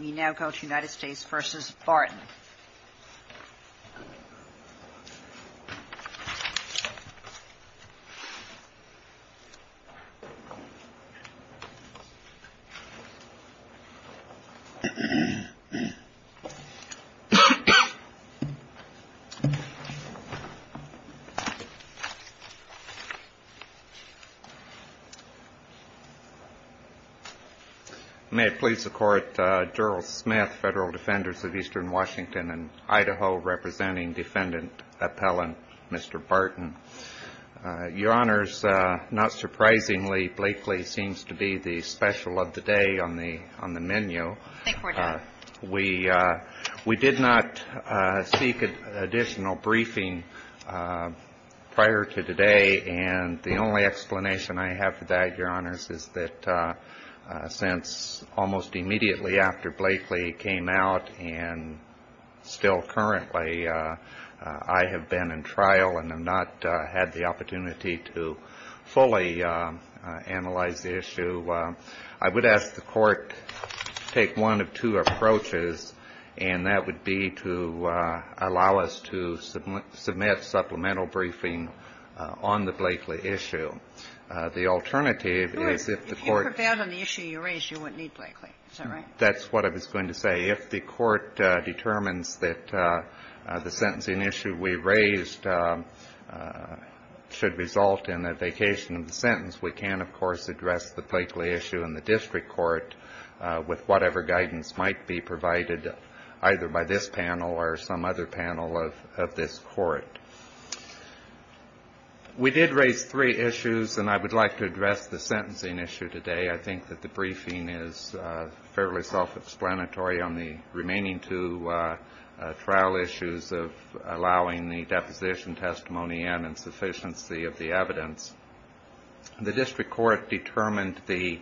We now go to United States v. Barton. May it please the Court, Gerald Smith, Federal Defenders of Eastern Washington. Your Honors, not surprisingly, Blakely seems to be the special of the day on the menu. We did not seek additional briefing prior to today, and the only explanation I have for that, Your Honors, is that since almost immediately after Blakely came out and still currently I have been in trial and have not had the opportunity to fully analyze the issue, I would ask the Court to take one of two approaches, and that would be to allow us to submit supplemental briefing on the Blakely issue. The alternative is if the Court — If you prevailed on the issue you raised, you wouldn't need Blakely, is that right? That's what I was going to say. If the Court determines that the sentencing issue we raised should result in a vacation of the sentence, we can, of course, address the Blakely issue in the district court with whatever guidance might be provided either by this panel or some other panel of this Court. We did raise three issues, and I would like to address the sentencing issue today. I think that the briefing is fairly self-explanatory on the remaining two trial issues of allowing the deposition testimony and insufficiency of the evidence. The district court determined the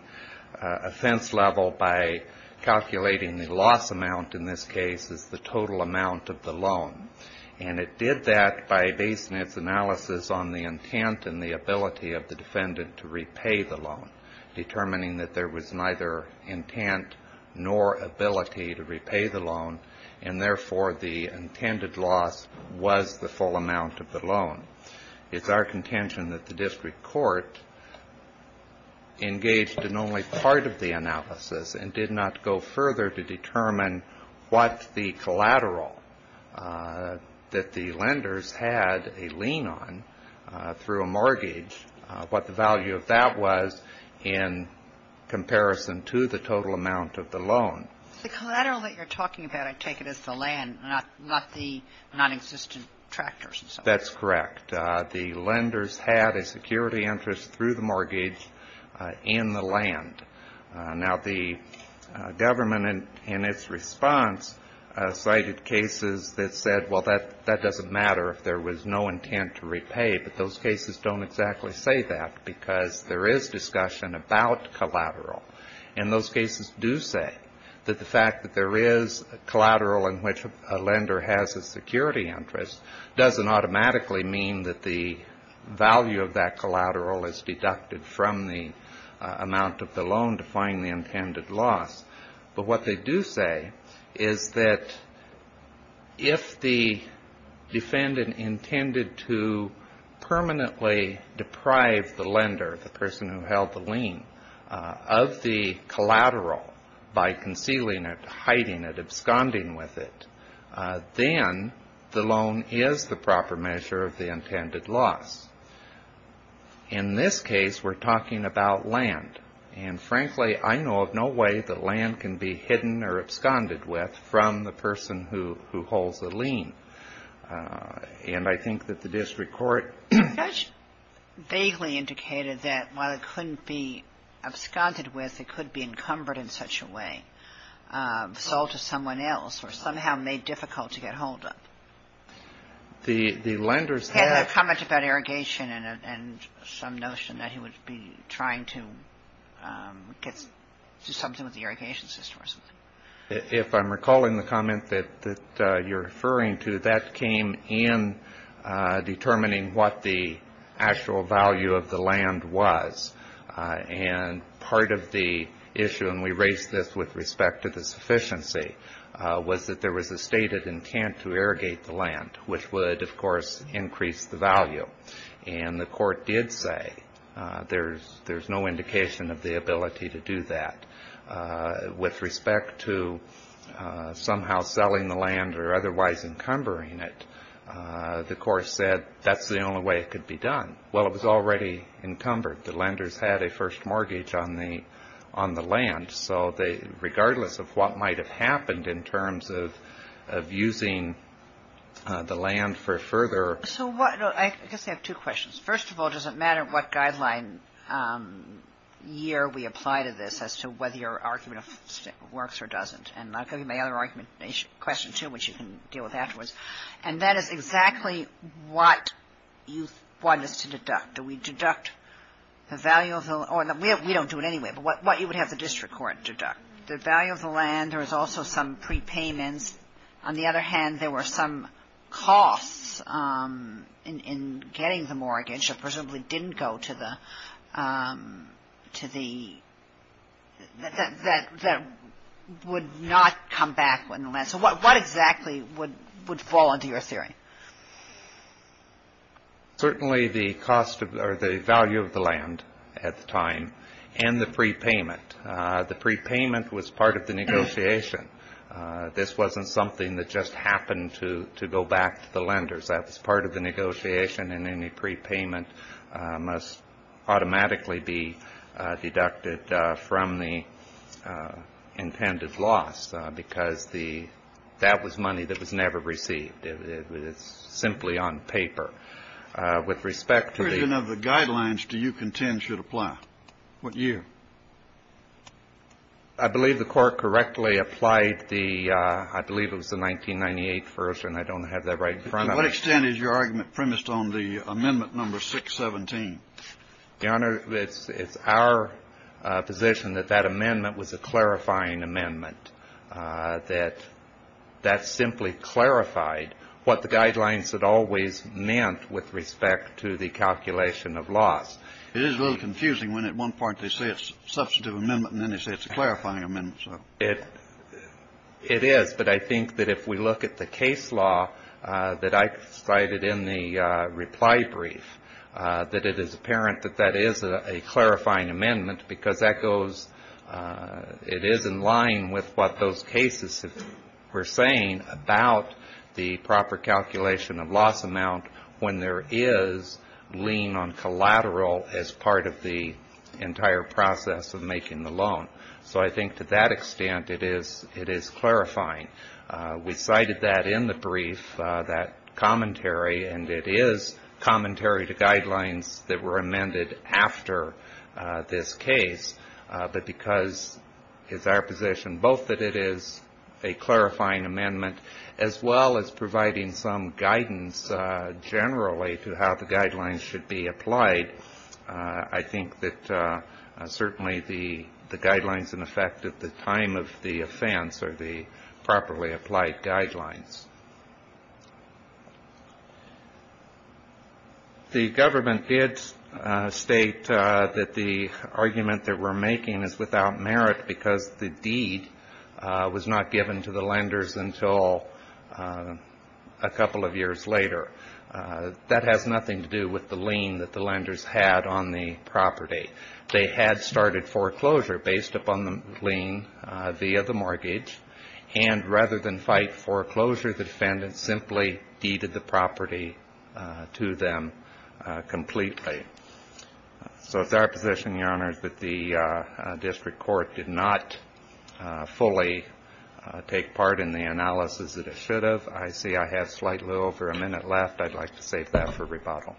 offense level by calculating the loss amount in this case as the total amount of the loan, and it did that by basing its analysis on the intent and the ability of the defendant to repay the loan, determining that there was neither intent nor ability to repay the loan, and therefore the intended loss was the full amount of the loan. It's our contention that the district court engaged in only part of the analysis and did not go further to determine what the collateral that the lenders had a lien on through a mortgage, what the value of that was in comparison to the total amount of the loan. The collateral that you're talking about, I take it as the land, not the nonexistent tractors and so forth. That's correct. The lenders had a security interest through the mortgage in the land. Now, the government in its response cited cases that said, well, that doesn't matter if there was no intent to repay, but those cases don't exactly say that because there is discussion about collateral, and those cases do say that the fact that there is collateral in which a lender has a security interest doesn't automatically mean that the value of that collateral is deducted from the amount of the loan to find the intended loss. But what they do say is that if the defendant intended to permanently deprive the lender, the person who held the lien, of the collateral by concealing it, hiding it, absconding with it, then the loan is the proper measure of the intended loss. In this case, we're talking about land. And frankly, I know of no way that land can be hidden or absconded with from the person who holds the lien. And I think that the district court… Judge vaguely indicated that while it couldn't be absconded with, it could be encumbered in such a way, sold to someone else or somehow made difficult to get hold of. The lenders had… He had a comment about irrigation and some notion that he would be trying to get to something with the irrigation system. If I'm recalling the comment that you're referring to, that came in determining what the actual value of the land was. And part of the issue, and we raised this with respect to the sufficiency, was that there was a stated intent to irrigate the land, which would, of course, increase the value. And the court did say there's no indication of the ability to do that. With respect to somehow selling the land or otherwise encumbering it, the court said that's the only way it could be done. Well, it was already encumbered. The lenders had a first mortgage on the land. So regardless of what might have happened in terms of using the land for further… So I guess I have two questions. First of all, does it matter what guideline year we apply to this as to whether your argument works or doesn't? And I'll give you my other argumentation question, too, which you can deal with afterwards. And that is exactly what you want us to deduct. Do we deduct the value of the land? We don't do it anyway, but what you would have the district court deduct? The value of the land, there was also some prepayments. On the other hand, there were some costs in getting the mortgage that presumably didn't go to the… that would not come back on the land. So what exactly would fall into your theory? Certainly the cost or the value of the land at the time and the prepayment. The prepayment was part of the negotiation. This wasn't something that just happened to go back to the lenders. That was part of the negotiation, and any prepayment must automatically be deducted from the intended loss because that was money that was never received. It was simply on paper. With respect to the… What version of the guidelines do you contend should apply? What year? I believe the Court correctly applied the… I believe it was the 1998 version. I don't have that right in front of me. To what extent is your argument premised on the amendment number 617? Your Honor, it's our position that that amendment was a clarifying amendment, that that simply clarified what the guidelines had always meant with respect to the calculation of loss. It is a little confusing when at one point they say it's a substantive amendment and then they say it's a clarifying amendment. It is, but I think that if we look at the case law that I cited in the reply brief, that it is apparent that that is a clarifying amendment because that goes… It is in line with what those cases were saying about the proper calculation of loss amount when there is lien on collateral as part of the entire process of making the loan. So I think to that extent it is clarifying. We cited that in the brief, that commentary, and it is commentary to guidelines that were amended after this case, but because it's our position both that it is a clarifying amendment as well as providing some guidance generally to how the guidelines should be applied, I think that certainly the guidelines in effect at the time of the offense are the properly applied guidelines. The government did state that the argument that we're making is without merit because the deed was not given to the lenders until a couple of years later. That has nothing to do with the lien that the lenders had on the property. They had started foreclosure based upon the lien via the mortgage, and rather than fight foreclosure, the defendant simply deeded the property to them completely. So it's our position, Your Honor, that the district court did not fully take part in the analysis that it should have. I see I have slightly over a minute left. I'd like to save that for rebuttal.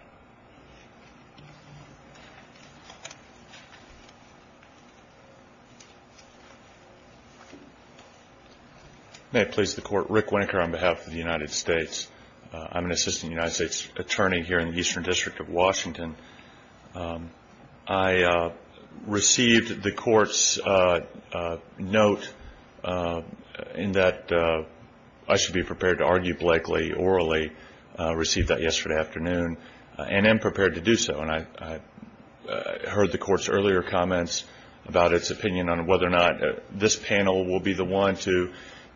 May it please the Court. Rick Winker on behalf of the United States. I'm an assistant United States attorney here in the Eastern District of Washington. I received the court's note in that I should be prepared to argue Blakely orally. I received that yesterday afternoon and am prepared to do so. And I heard the court's earlier comments about its opinion on whether or not this panel will be the one to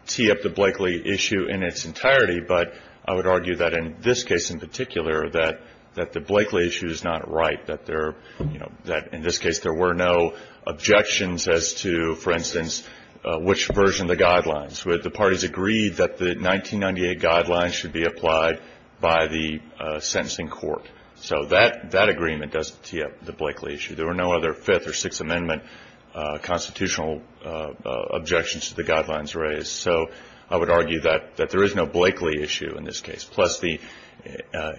tee up the Blakely issue in its entirety. But I would argue that in this case in particular, that the Blakely issue is not right, that in this case there were no objections as to, for instance, which version of the guidelines. The parties agreed that the 1998 guidelines should be applied by the sentencing court. So that agreement does tee up the Blakely issue. There were no other Fifth or Sixth Amendment constitutional objections to the guidelines raised. So I would argue that there is no Blakely issue in this case, plus the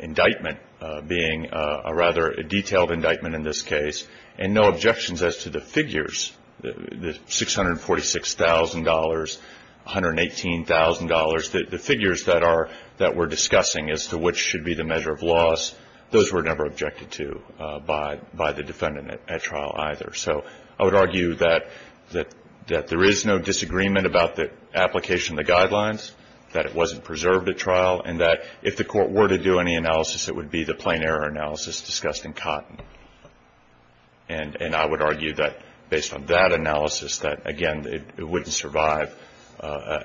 indictment being a rather detailed indictment in this case, and no objections as to the figures, the $646,000, $118,000, the figures that we're discussing as to which should be the measure of loss, those were never objected to by the defendant at trial either. So I would argue that there is no disagreement about the application of the guidelines, that it wasn't preserved at trial, and that if the court were to do any analysis, it would be the plain error analysis discussed in Cotton. And I would argue that based on that analysis that, again, it wouldn't survive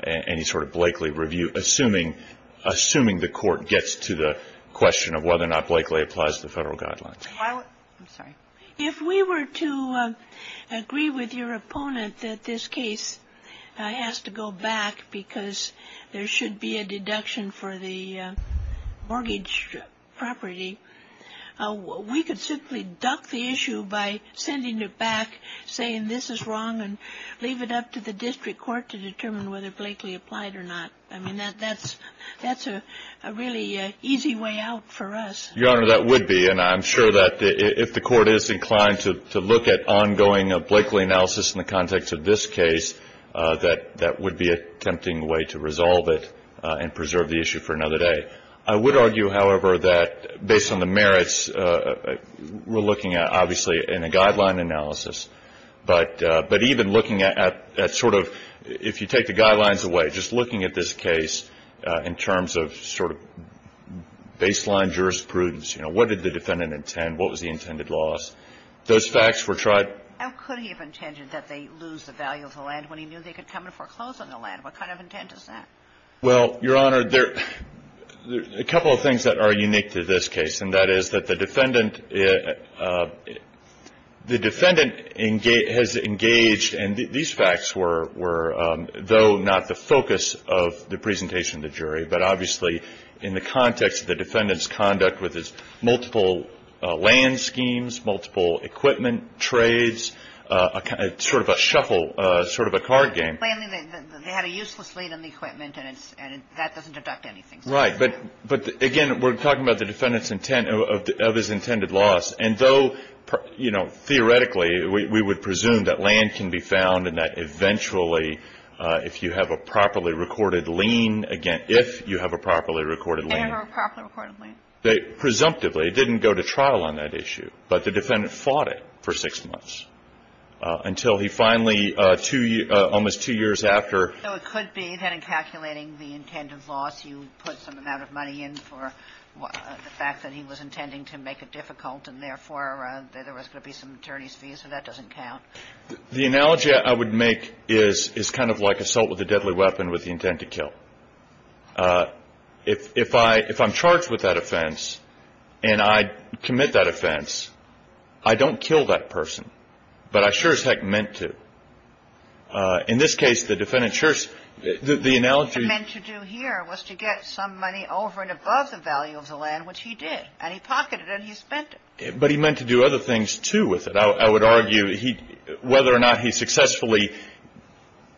any sort of Blakely review, assuming the court gets to the question of whether or not Blakely applies to the Federal guidelines. I'm sorry. If we were to agree with your opponent that this case has to go back because there should be a deduction for the mortgage property, we could simply duck the issue by sending it back, saying this is wrong, and leave it up to the district court to determine whether Blakely applied or not. I mean, that's a really easy way out for us. Your Honor, that would be. And I'm sure that if the court is inclined to look at ongoing Blakely analysis in the context of this case, that that would be a tempting way to resolve it and preserve the issue for another day. I would argue, however, that based on the merits, we're looking at, obviously, in a guideline analysis. But even looking at sort of if you take the guidelines away, just looking at this case in terms of sort of baseline jurisprudence, you know, what did the defendant intend? What was the intended loss? Those facts were tried. How could he have intended that they lose the value of the land when he knew they could come and foreclose on the land? What kind of intent is that? Well, Your Honor, there are a couple of things that are unique to this case, and that is that the defendant has engaged, and these facts were though not the focus of the presentation of the jury, but obviously in the context of the defendant's conduct with his multiple land schemes, multiple equipment trades, sort of a shuffle, sort of a card game. They had a useless lead on the equipment, and that doesn't deduct anything. Right. But, again, we're talking about the defendant's intent of his intended loss. And though, you know, theoretically, we would presume that land can be found and that eventually, if you have a properly recorded lien, again, if you have a properly recorded lien. They have a properly recorded lien. Presumptively. It didn't go to trial on that issue. But the defendant fought it for six months until he finally, almost two years after. So it could be that in calculating the intended loss, you put some amount of money in for the fact that he was intending to make it difficult, and, therefore, there was going to be some attorney's fees. So that doesn't count. The analogy I would make is kind of like assault with a deadly weapon with the intent to kill. If I'm charged with that offense and I commit that offense, I don't kill that person. But I sure as heck meant to. In this case, the defendant sure as the analogy. What he meant to do here was to get some money over and above the value of the land, which he did. And he pocketed it and he spent it. But he meant to do other things, too, with it. I would argue whether or not he successfully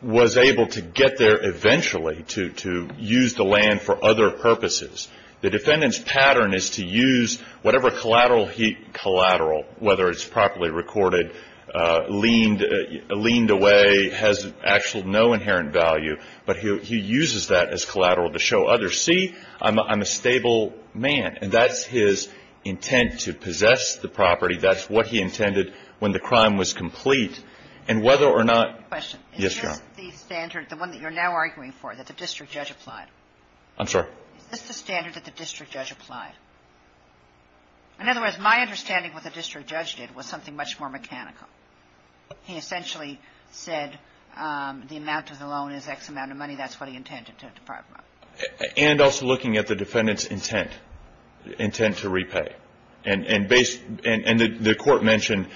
was able to get there eventually to use the land for other purposes. The defendant's pattern is to use whatever collateral he – collateral, whether it's properly recorded, leaned away, has actual no inherent value, but he uses that as collateral to show others, see, I'm a stable man. And that's his intent, to possess the property. That's what he intended when the crime was complete. And whether or not – Question. Yes, Your Honor. Is this the standard, the one that you're now arguing for, that the district judge applied? I'm sorry? Is this the standard that the district judge applied? In other words, my understanding of what the district judge did was something much more mechanical. He essentially said the amount of the loan is X amount of money. That's what he intended to provide. And also looking at the defendant's intent, intent to repay. And based – and the Court mentioned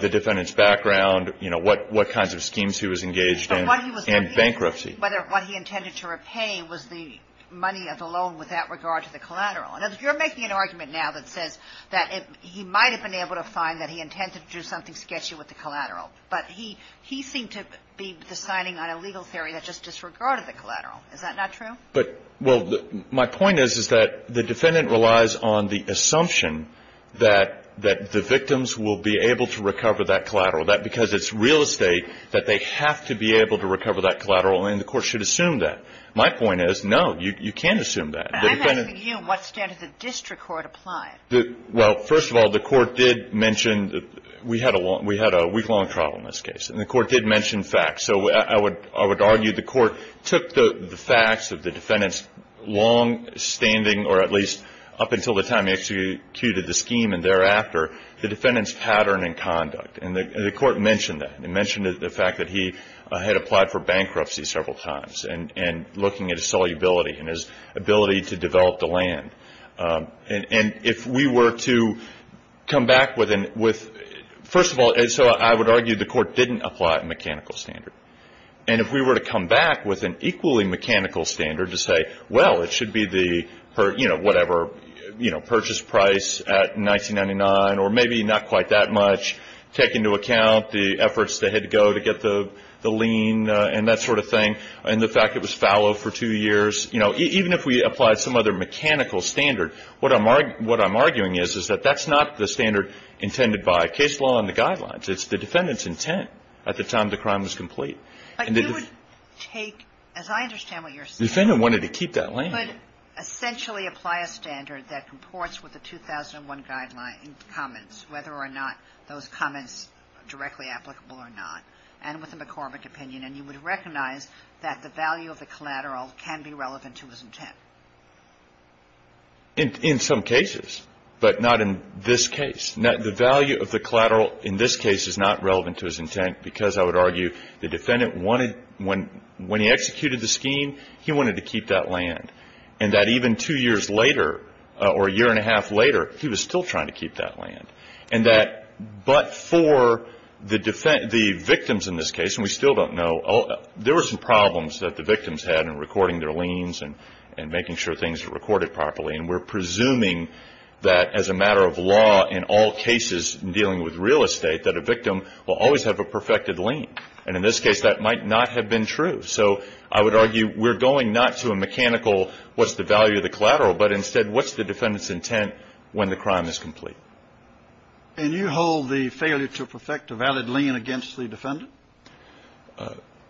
the defendant's background, you know, what kinds of schemes he was engaged in. But what he was – And bankruptcy. But what he intended to repay was the money of the loan with that regard to the collateral. And you're making an argument now that says that he might have been able to find that he intended to do something sketchy with the collateral. But he seemed to be deciding on a legal theory that just disregarded the collateral. Is that not true? But – well, my point is, is that the defendant relies on the assumption that the victims will be able to recover that collateral. That because it's real estate, that they have to be able to recover that collateral. And the Court should assume that. My point is, no, you can't assume that. I'm asking you what standard the district court applied. Well, first of all, the Court did mention – we had a week-long trial in this case. And the Court did mention facts. So I would argue the Court took the facts of the defendant's longstanding, or at least up until the time he executed the scheme and thereafter, the defendant's pattern and conduct. And the Court mentioned that. It mentioned the fact that he had applied for bankruptcy several times. And looking at his solubility and his ability to develop the land. And if we were to come back with – first of all, so I would argue the Court didn't apply a mechanical standard. And if we were to come back with an equally mechanical standard to say, well, it should be the, you know, whatever, you know, purchase price at $19.99 or maybe not quite that much, take into account the efforts that had to go to get the lien and that sort of thing. And the fact it was fallow for two years. You know, even if we applied some other mechanical standard, what I'm arguing is that that's not the standard intended by case law and the guidelines. It's the defendant's intent at the time the crime was complete. But you would take – as I understand what you're saying. The defendant wanted to keep that land. You would essentially apply a standard that comports with the 2001 guidelines and comments, whether or not those comments are directly applicable or not. And with a McCormick opinion. And you would recognize that the value of the collateral can be relevant to his intent. In some cases. But not in this case. The value of the collateral in this case is not relevant to his intent because, I would argue, the defendant wanted – when he executed the scheme, he wanted to keep that land. And that even two years later or a year and a half later, he was still trying to keep that land. And that – but for the victims in this case, and we still don't know – there were some problems that the victims had in recording their liens and making sure things were recorded properly. And we're presuming that as a matter of law in all cases dealing with real estate, that a victim will always have a perfected lien. And in this case, that might not have been true. So I would argue we're going not to a mechanical what's the value of the collateral, but instead what's the defendant's intent when the crime is complete. And you hold the failure to perfect a valid lien against the defendant?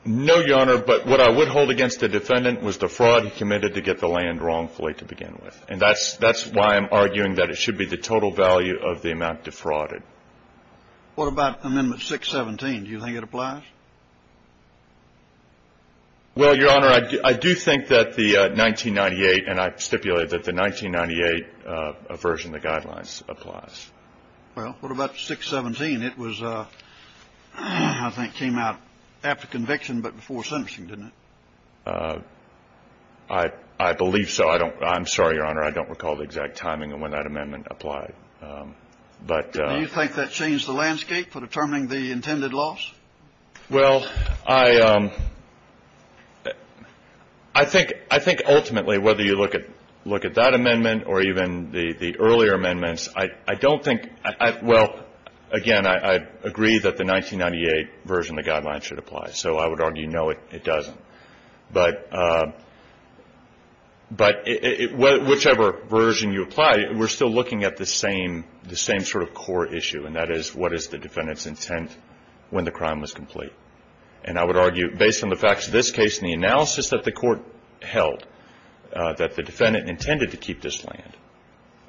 No, Your Honor. But what I would hold against the defendant was the fraud he committed to get the land wrongfully to begin with. And that's why I'm arguing that it should be the total value of the amount defrauded. What about Amendment 617? Do you think it applies? Well, Your Honor, I do think that the 1998 – and I stipulated that the 1998 version of the guidelines applies. Well, what about 617? It was – I think came out after conviction but before sentencing, didn't it? I believe so. I don't – I'm sorry, Your Honor. I don't recall the exact timing of when that amendment applied. But – Do you think that changed the landscape for determining the intended loss? Well, I think ultimately whether you look at that amendment or even the earlier amendments, I don't think – well, again, I agree that the 1998 version of the guidelines should apply. So I would argue no, it doesn't. But whichever version you apply, we're still looking at the same sort of core issue, and that is what is the defendant's intent when the crime was complete. And I would argue, based on the facts of this case and the analysis that the court held, that the defendant intended to keep this land,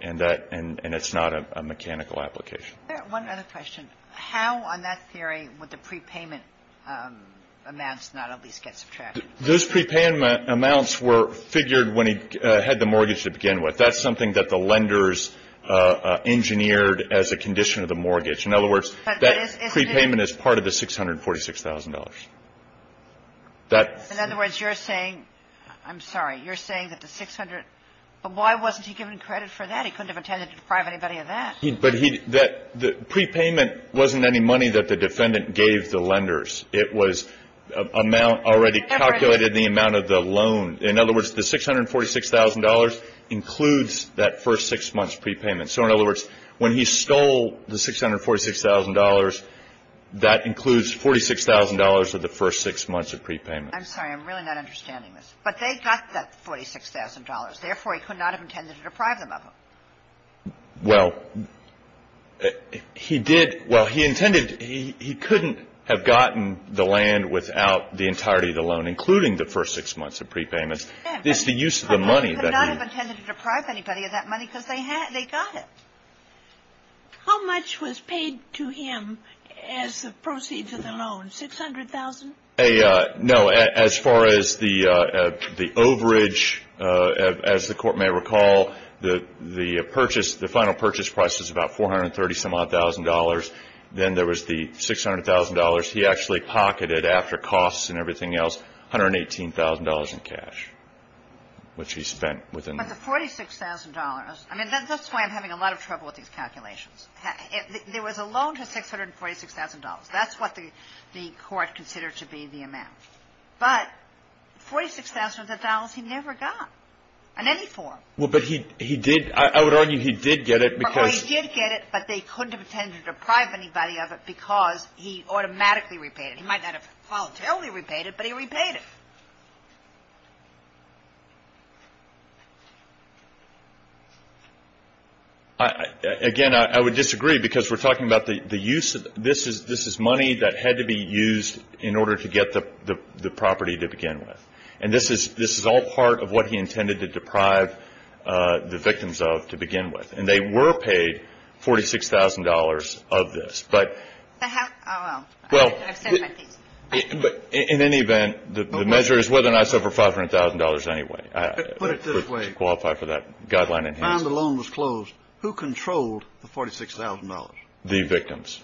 and that – and it's not a mechanical application. One other question. How on that theory would the prepayment amounts not at least get subtracted? Those prepayment amounts were figured when he had the mortgage to begin with. That's something that the lenders engineered as a condition of the mortgage. In other words, that prepayment is part of the $646,000. In other words, you're saying – I'm sorry. You're saying that the 600 – but why wasn't he given credit for that? He couldn't have intended to deprive anybody of that. But he – that – the prepayment wasn't any money that the defendant gave the lenders. It was amount already calculated in the amount of the loan. In other words, the $646,000 includes that first six months' prepayment. So, in other words, when he stole the $646,000, that includes $46,000 of the first six months of prepayment. I'm sorry. I'm really not understanding this. But they got that $46,000. Therefore, he could not have intended to deprive them of it. Well, he did – well, he intended – he couldn't have gotten the land without the entirety of the loan, including the first six months of prepayments. It's the use of the money that he – He could not have intended to deprive anybody of that money because they had – they got it. How much was paid to him as the proceeds of the loan? $600,000? A – no. As far as the overage, as the Court may recall, the purchase – the final purchase price was about $430,000-some-odd. Then there was the $600,000. He actually pocketed, after costs and everything else, $118,000 in cash, which he spent within the – But the $46,000 – I mean, that's why I'm having a lot of trouble with these calculations. There was a loan to $646,000. That's what the Court considered to be the amount. But $46,000 he never got in any form. Well, but he did – I would argue he did get it because – He automatically repaid it. He might not have voluntarily repaid it, but he repaid it. Again, I would disagree because we're talking about the use of – this is money that had to be used in order to get the property to begin with. And this is all part of what he intended to deprive the victims of to begin with. And they were paid $46,000 of this. But in any event, the measure is whether or not it's over $500,000 anyway. Put it this way. It would qualify for that guideline enhancement. When the loan was closed, who controlled the $46,000? The victims.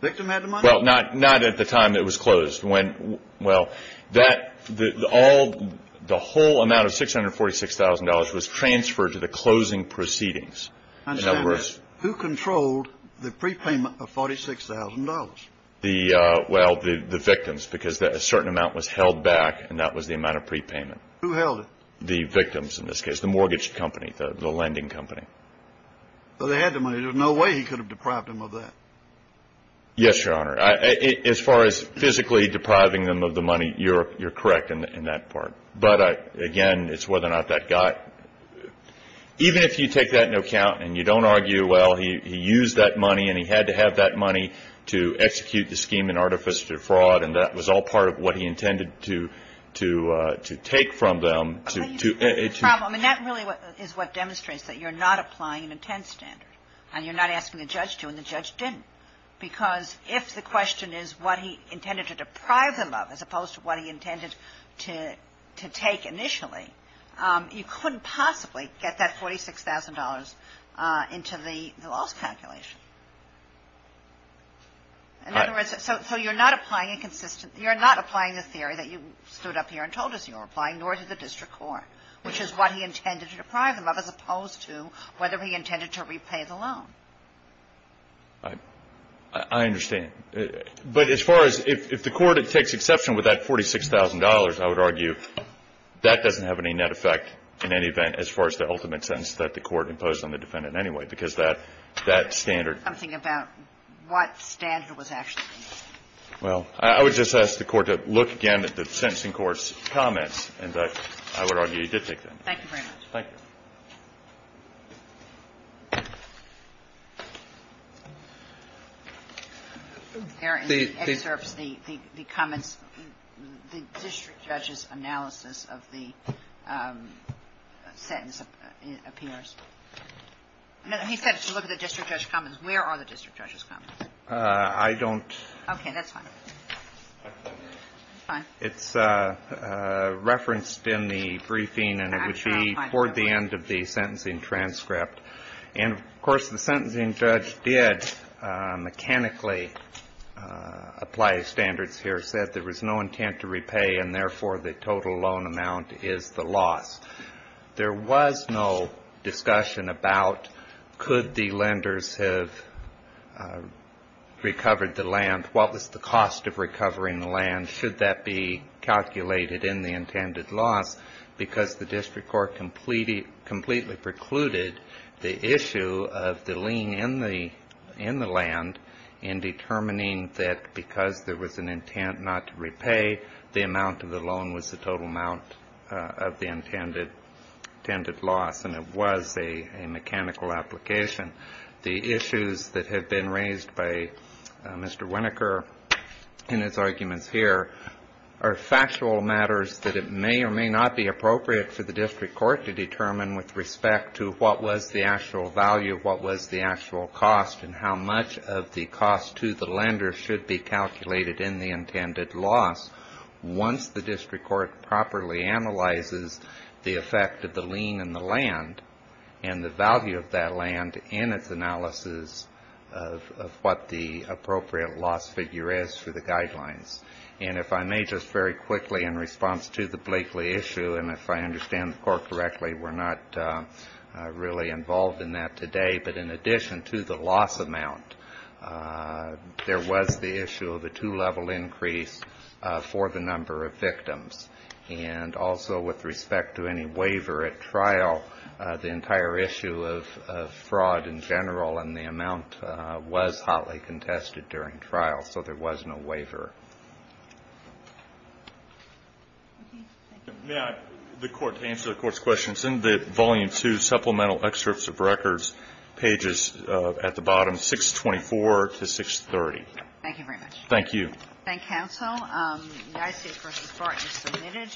The victim had the money? Well, not at the time it was closed. When – well, that – the whole amount of $646,000 was transferred to the closing proceedings. Who controlled the prepayment of $46,000? The – well, the victims, because a certain amount was held back, and that was the amount of prepayment. Who held it? The victims in this case. The mortgage company. The lending company. Well, they had the money. There's no way he could have deprived them of that. Yes, Your Honor. As far as physically depriving them of the money, you're correct in that part. But, again, it's whether or not that guy – even if you take that into account and you don't argue, well, he used that money and he had to have that money to execute the scheme and artificially defraud, and that was all part of what he intended to take from them to – But you see the problem, and that really is what demonstrates that you're not applying an intent standard. And you're not asking the judge to, and the judge didn't. Because if the question is what he intended to deprive them of as opposed to what he intended to take initially, you couldn't possibly get that $46,000 into the loss calculation. Right. So you're not applying a consistent – you're not applying the theory that you stood up here and told us you were applying, nor did the district court, which is what he intended to deprive them of as opposed to whether he intended to repay the loan. I understand. But as far as – if the court takes exception with that $46,000, I would argue that doesn't have any net effect in any event as far as the ultimate sentence that the court imposed on the defendant anyway, because that standard – I'm thinking about what standard was actually used. Well, I would just ask the court to look again at the sentencing court's comments, and I would argue he did take that into account. Thank you very much. Thank you. There in the excerpts, the comments – the district judge's analysis of the sentence appears. No, he said to look at the district judge's comments. Where are the district judge's comments? I don't – Okay. That's fine. It's referenced in the briefing, and it would be toward the end of the sentencing transcript. And, of course, the sentencing judge did mechanically apply standards here, said there was no intent to repay, and therefore the total loan amount is the loss. There was no discussion about could the lenders have recovered the land, what was the cost of recovering the land, should that be calculated in the intended loss, because the district court completely precluded the issue of the lien in the land in determining that because there was an intent not to repay, the amount of the loan was the total amount of the intended loss, and it was a mechanical application. The issues that have been raised by Mr. Winokur in his arguments here are factual matters that it may or may not be appropriate for the district court to determine with respect to what was the actual value, what was the actual cost, and how much of the cost to the lender should be calculated in the intended loss once the district court properly analyzes the effect of the lien in the land and the value of that land in its analysis of what the appropriate loss figure is for the guidelines. And if I may just very quickly in response to the Blakely issue, and if I understand the court correctly, we're not really involved in that today, but in addition to the loss amount, there was the issue of a two-level increase for the number of victims. And also with respect to any waiver at trial, the entire issue of fraud in general and the amount was hotly contested during trial, so there was no waiver. May I, the court, to answer the court's question, send the Volume 2 Supplemental Excerpts of Records pages at the bottom, 624 to 630. Thank you very much. Thank you. Thank you, counsel. The ICA v. Barton is submitted.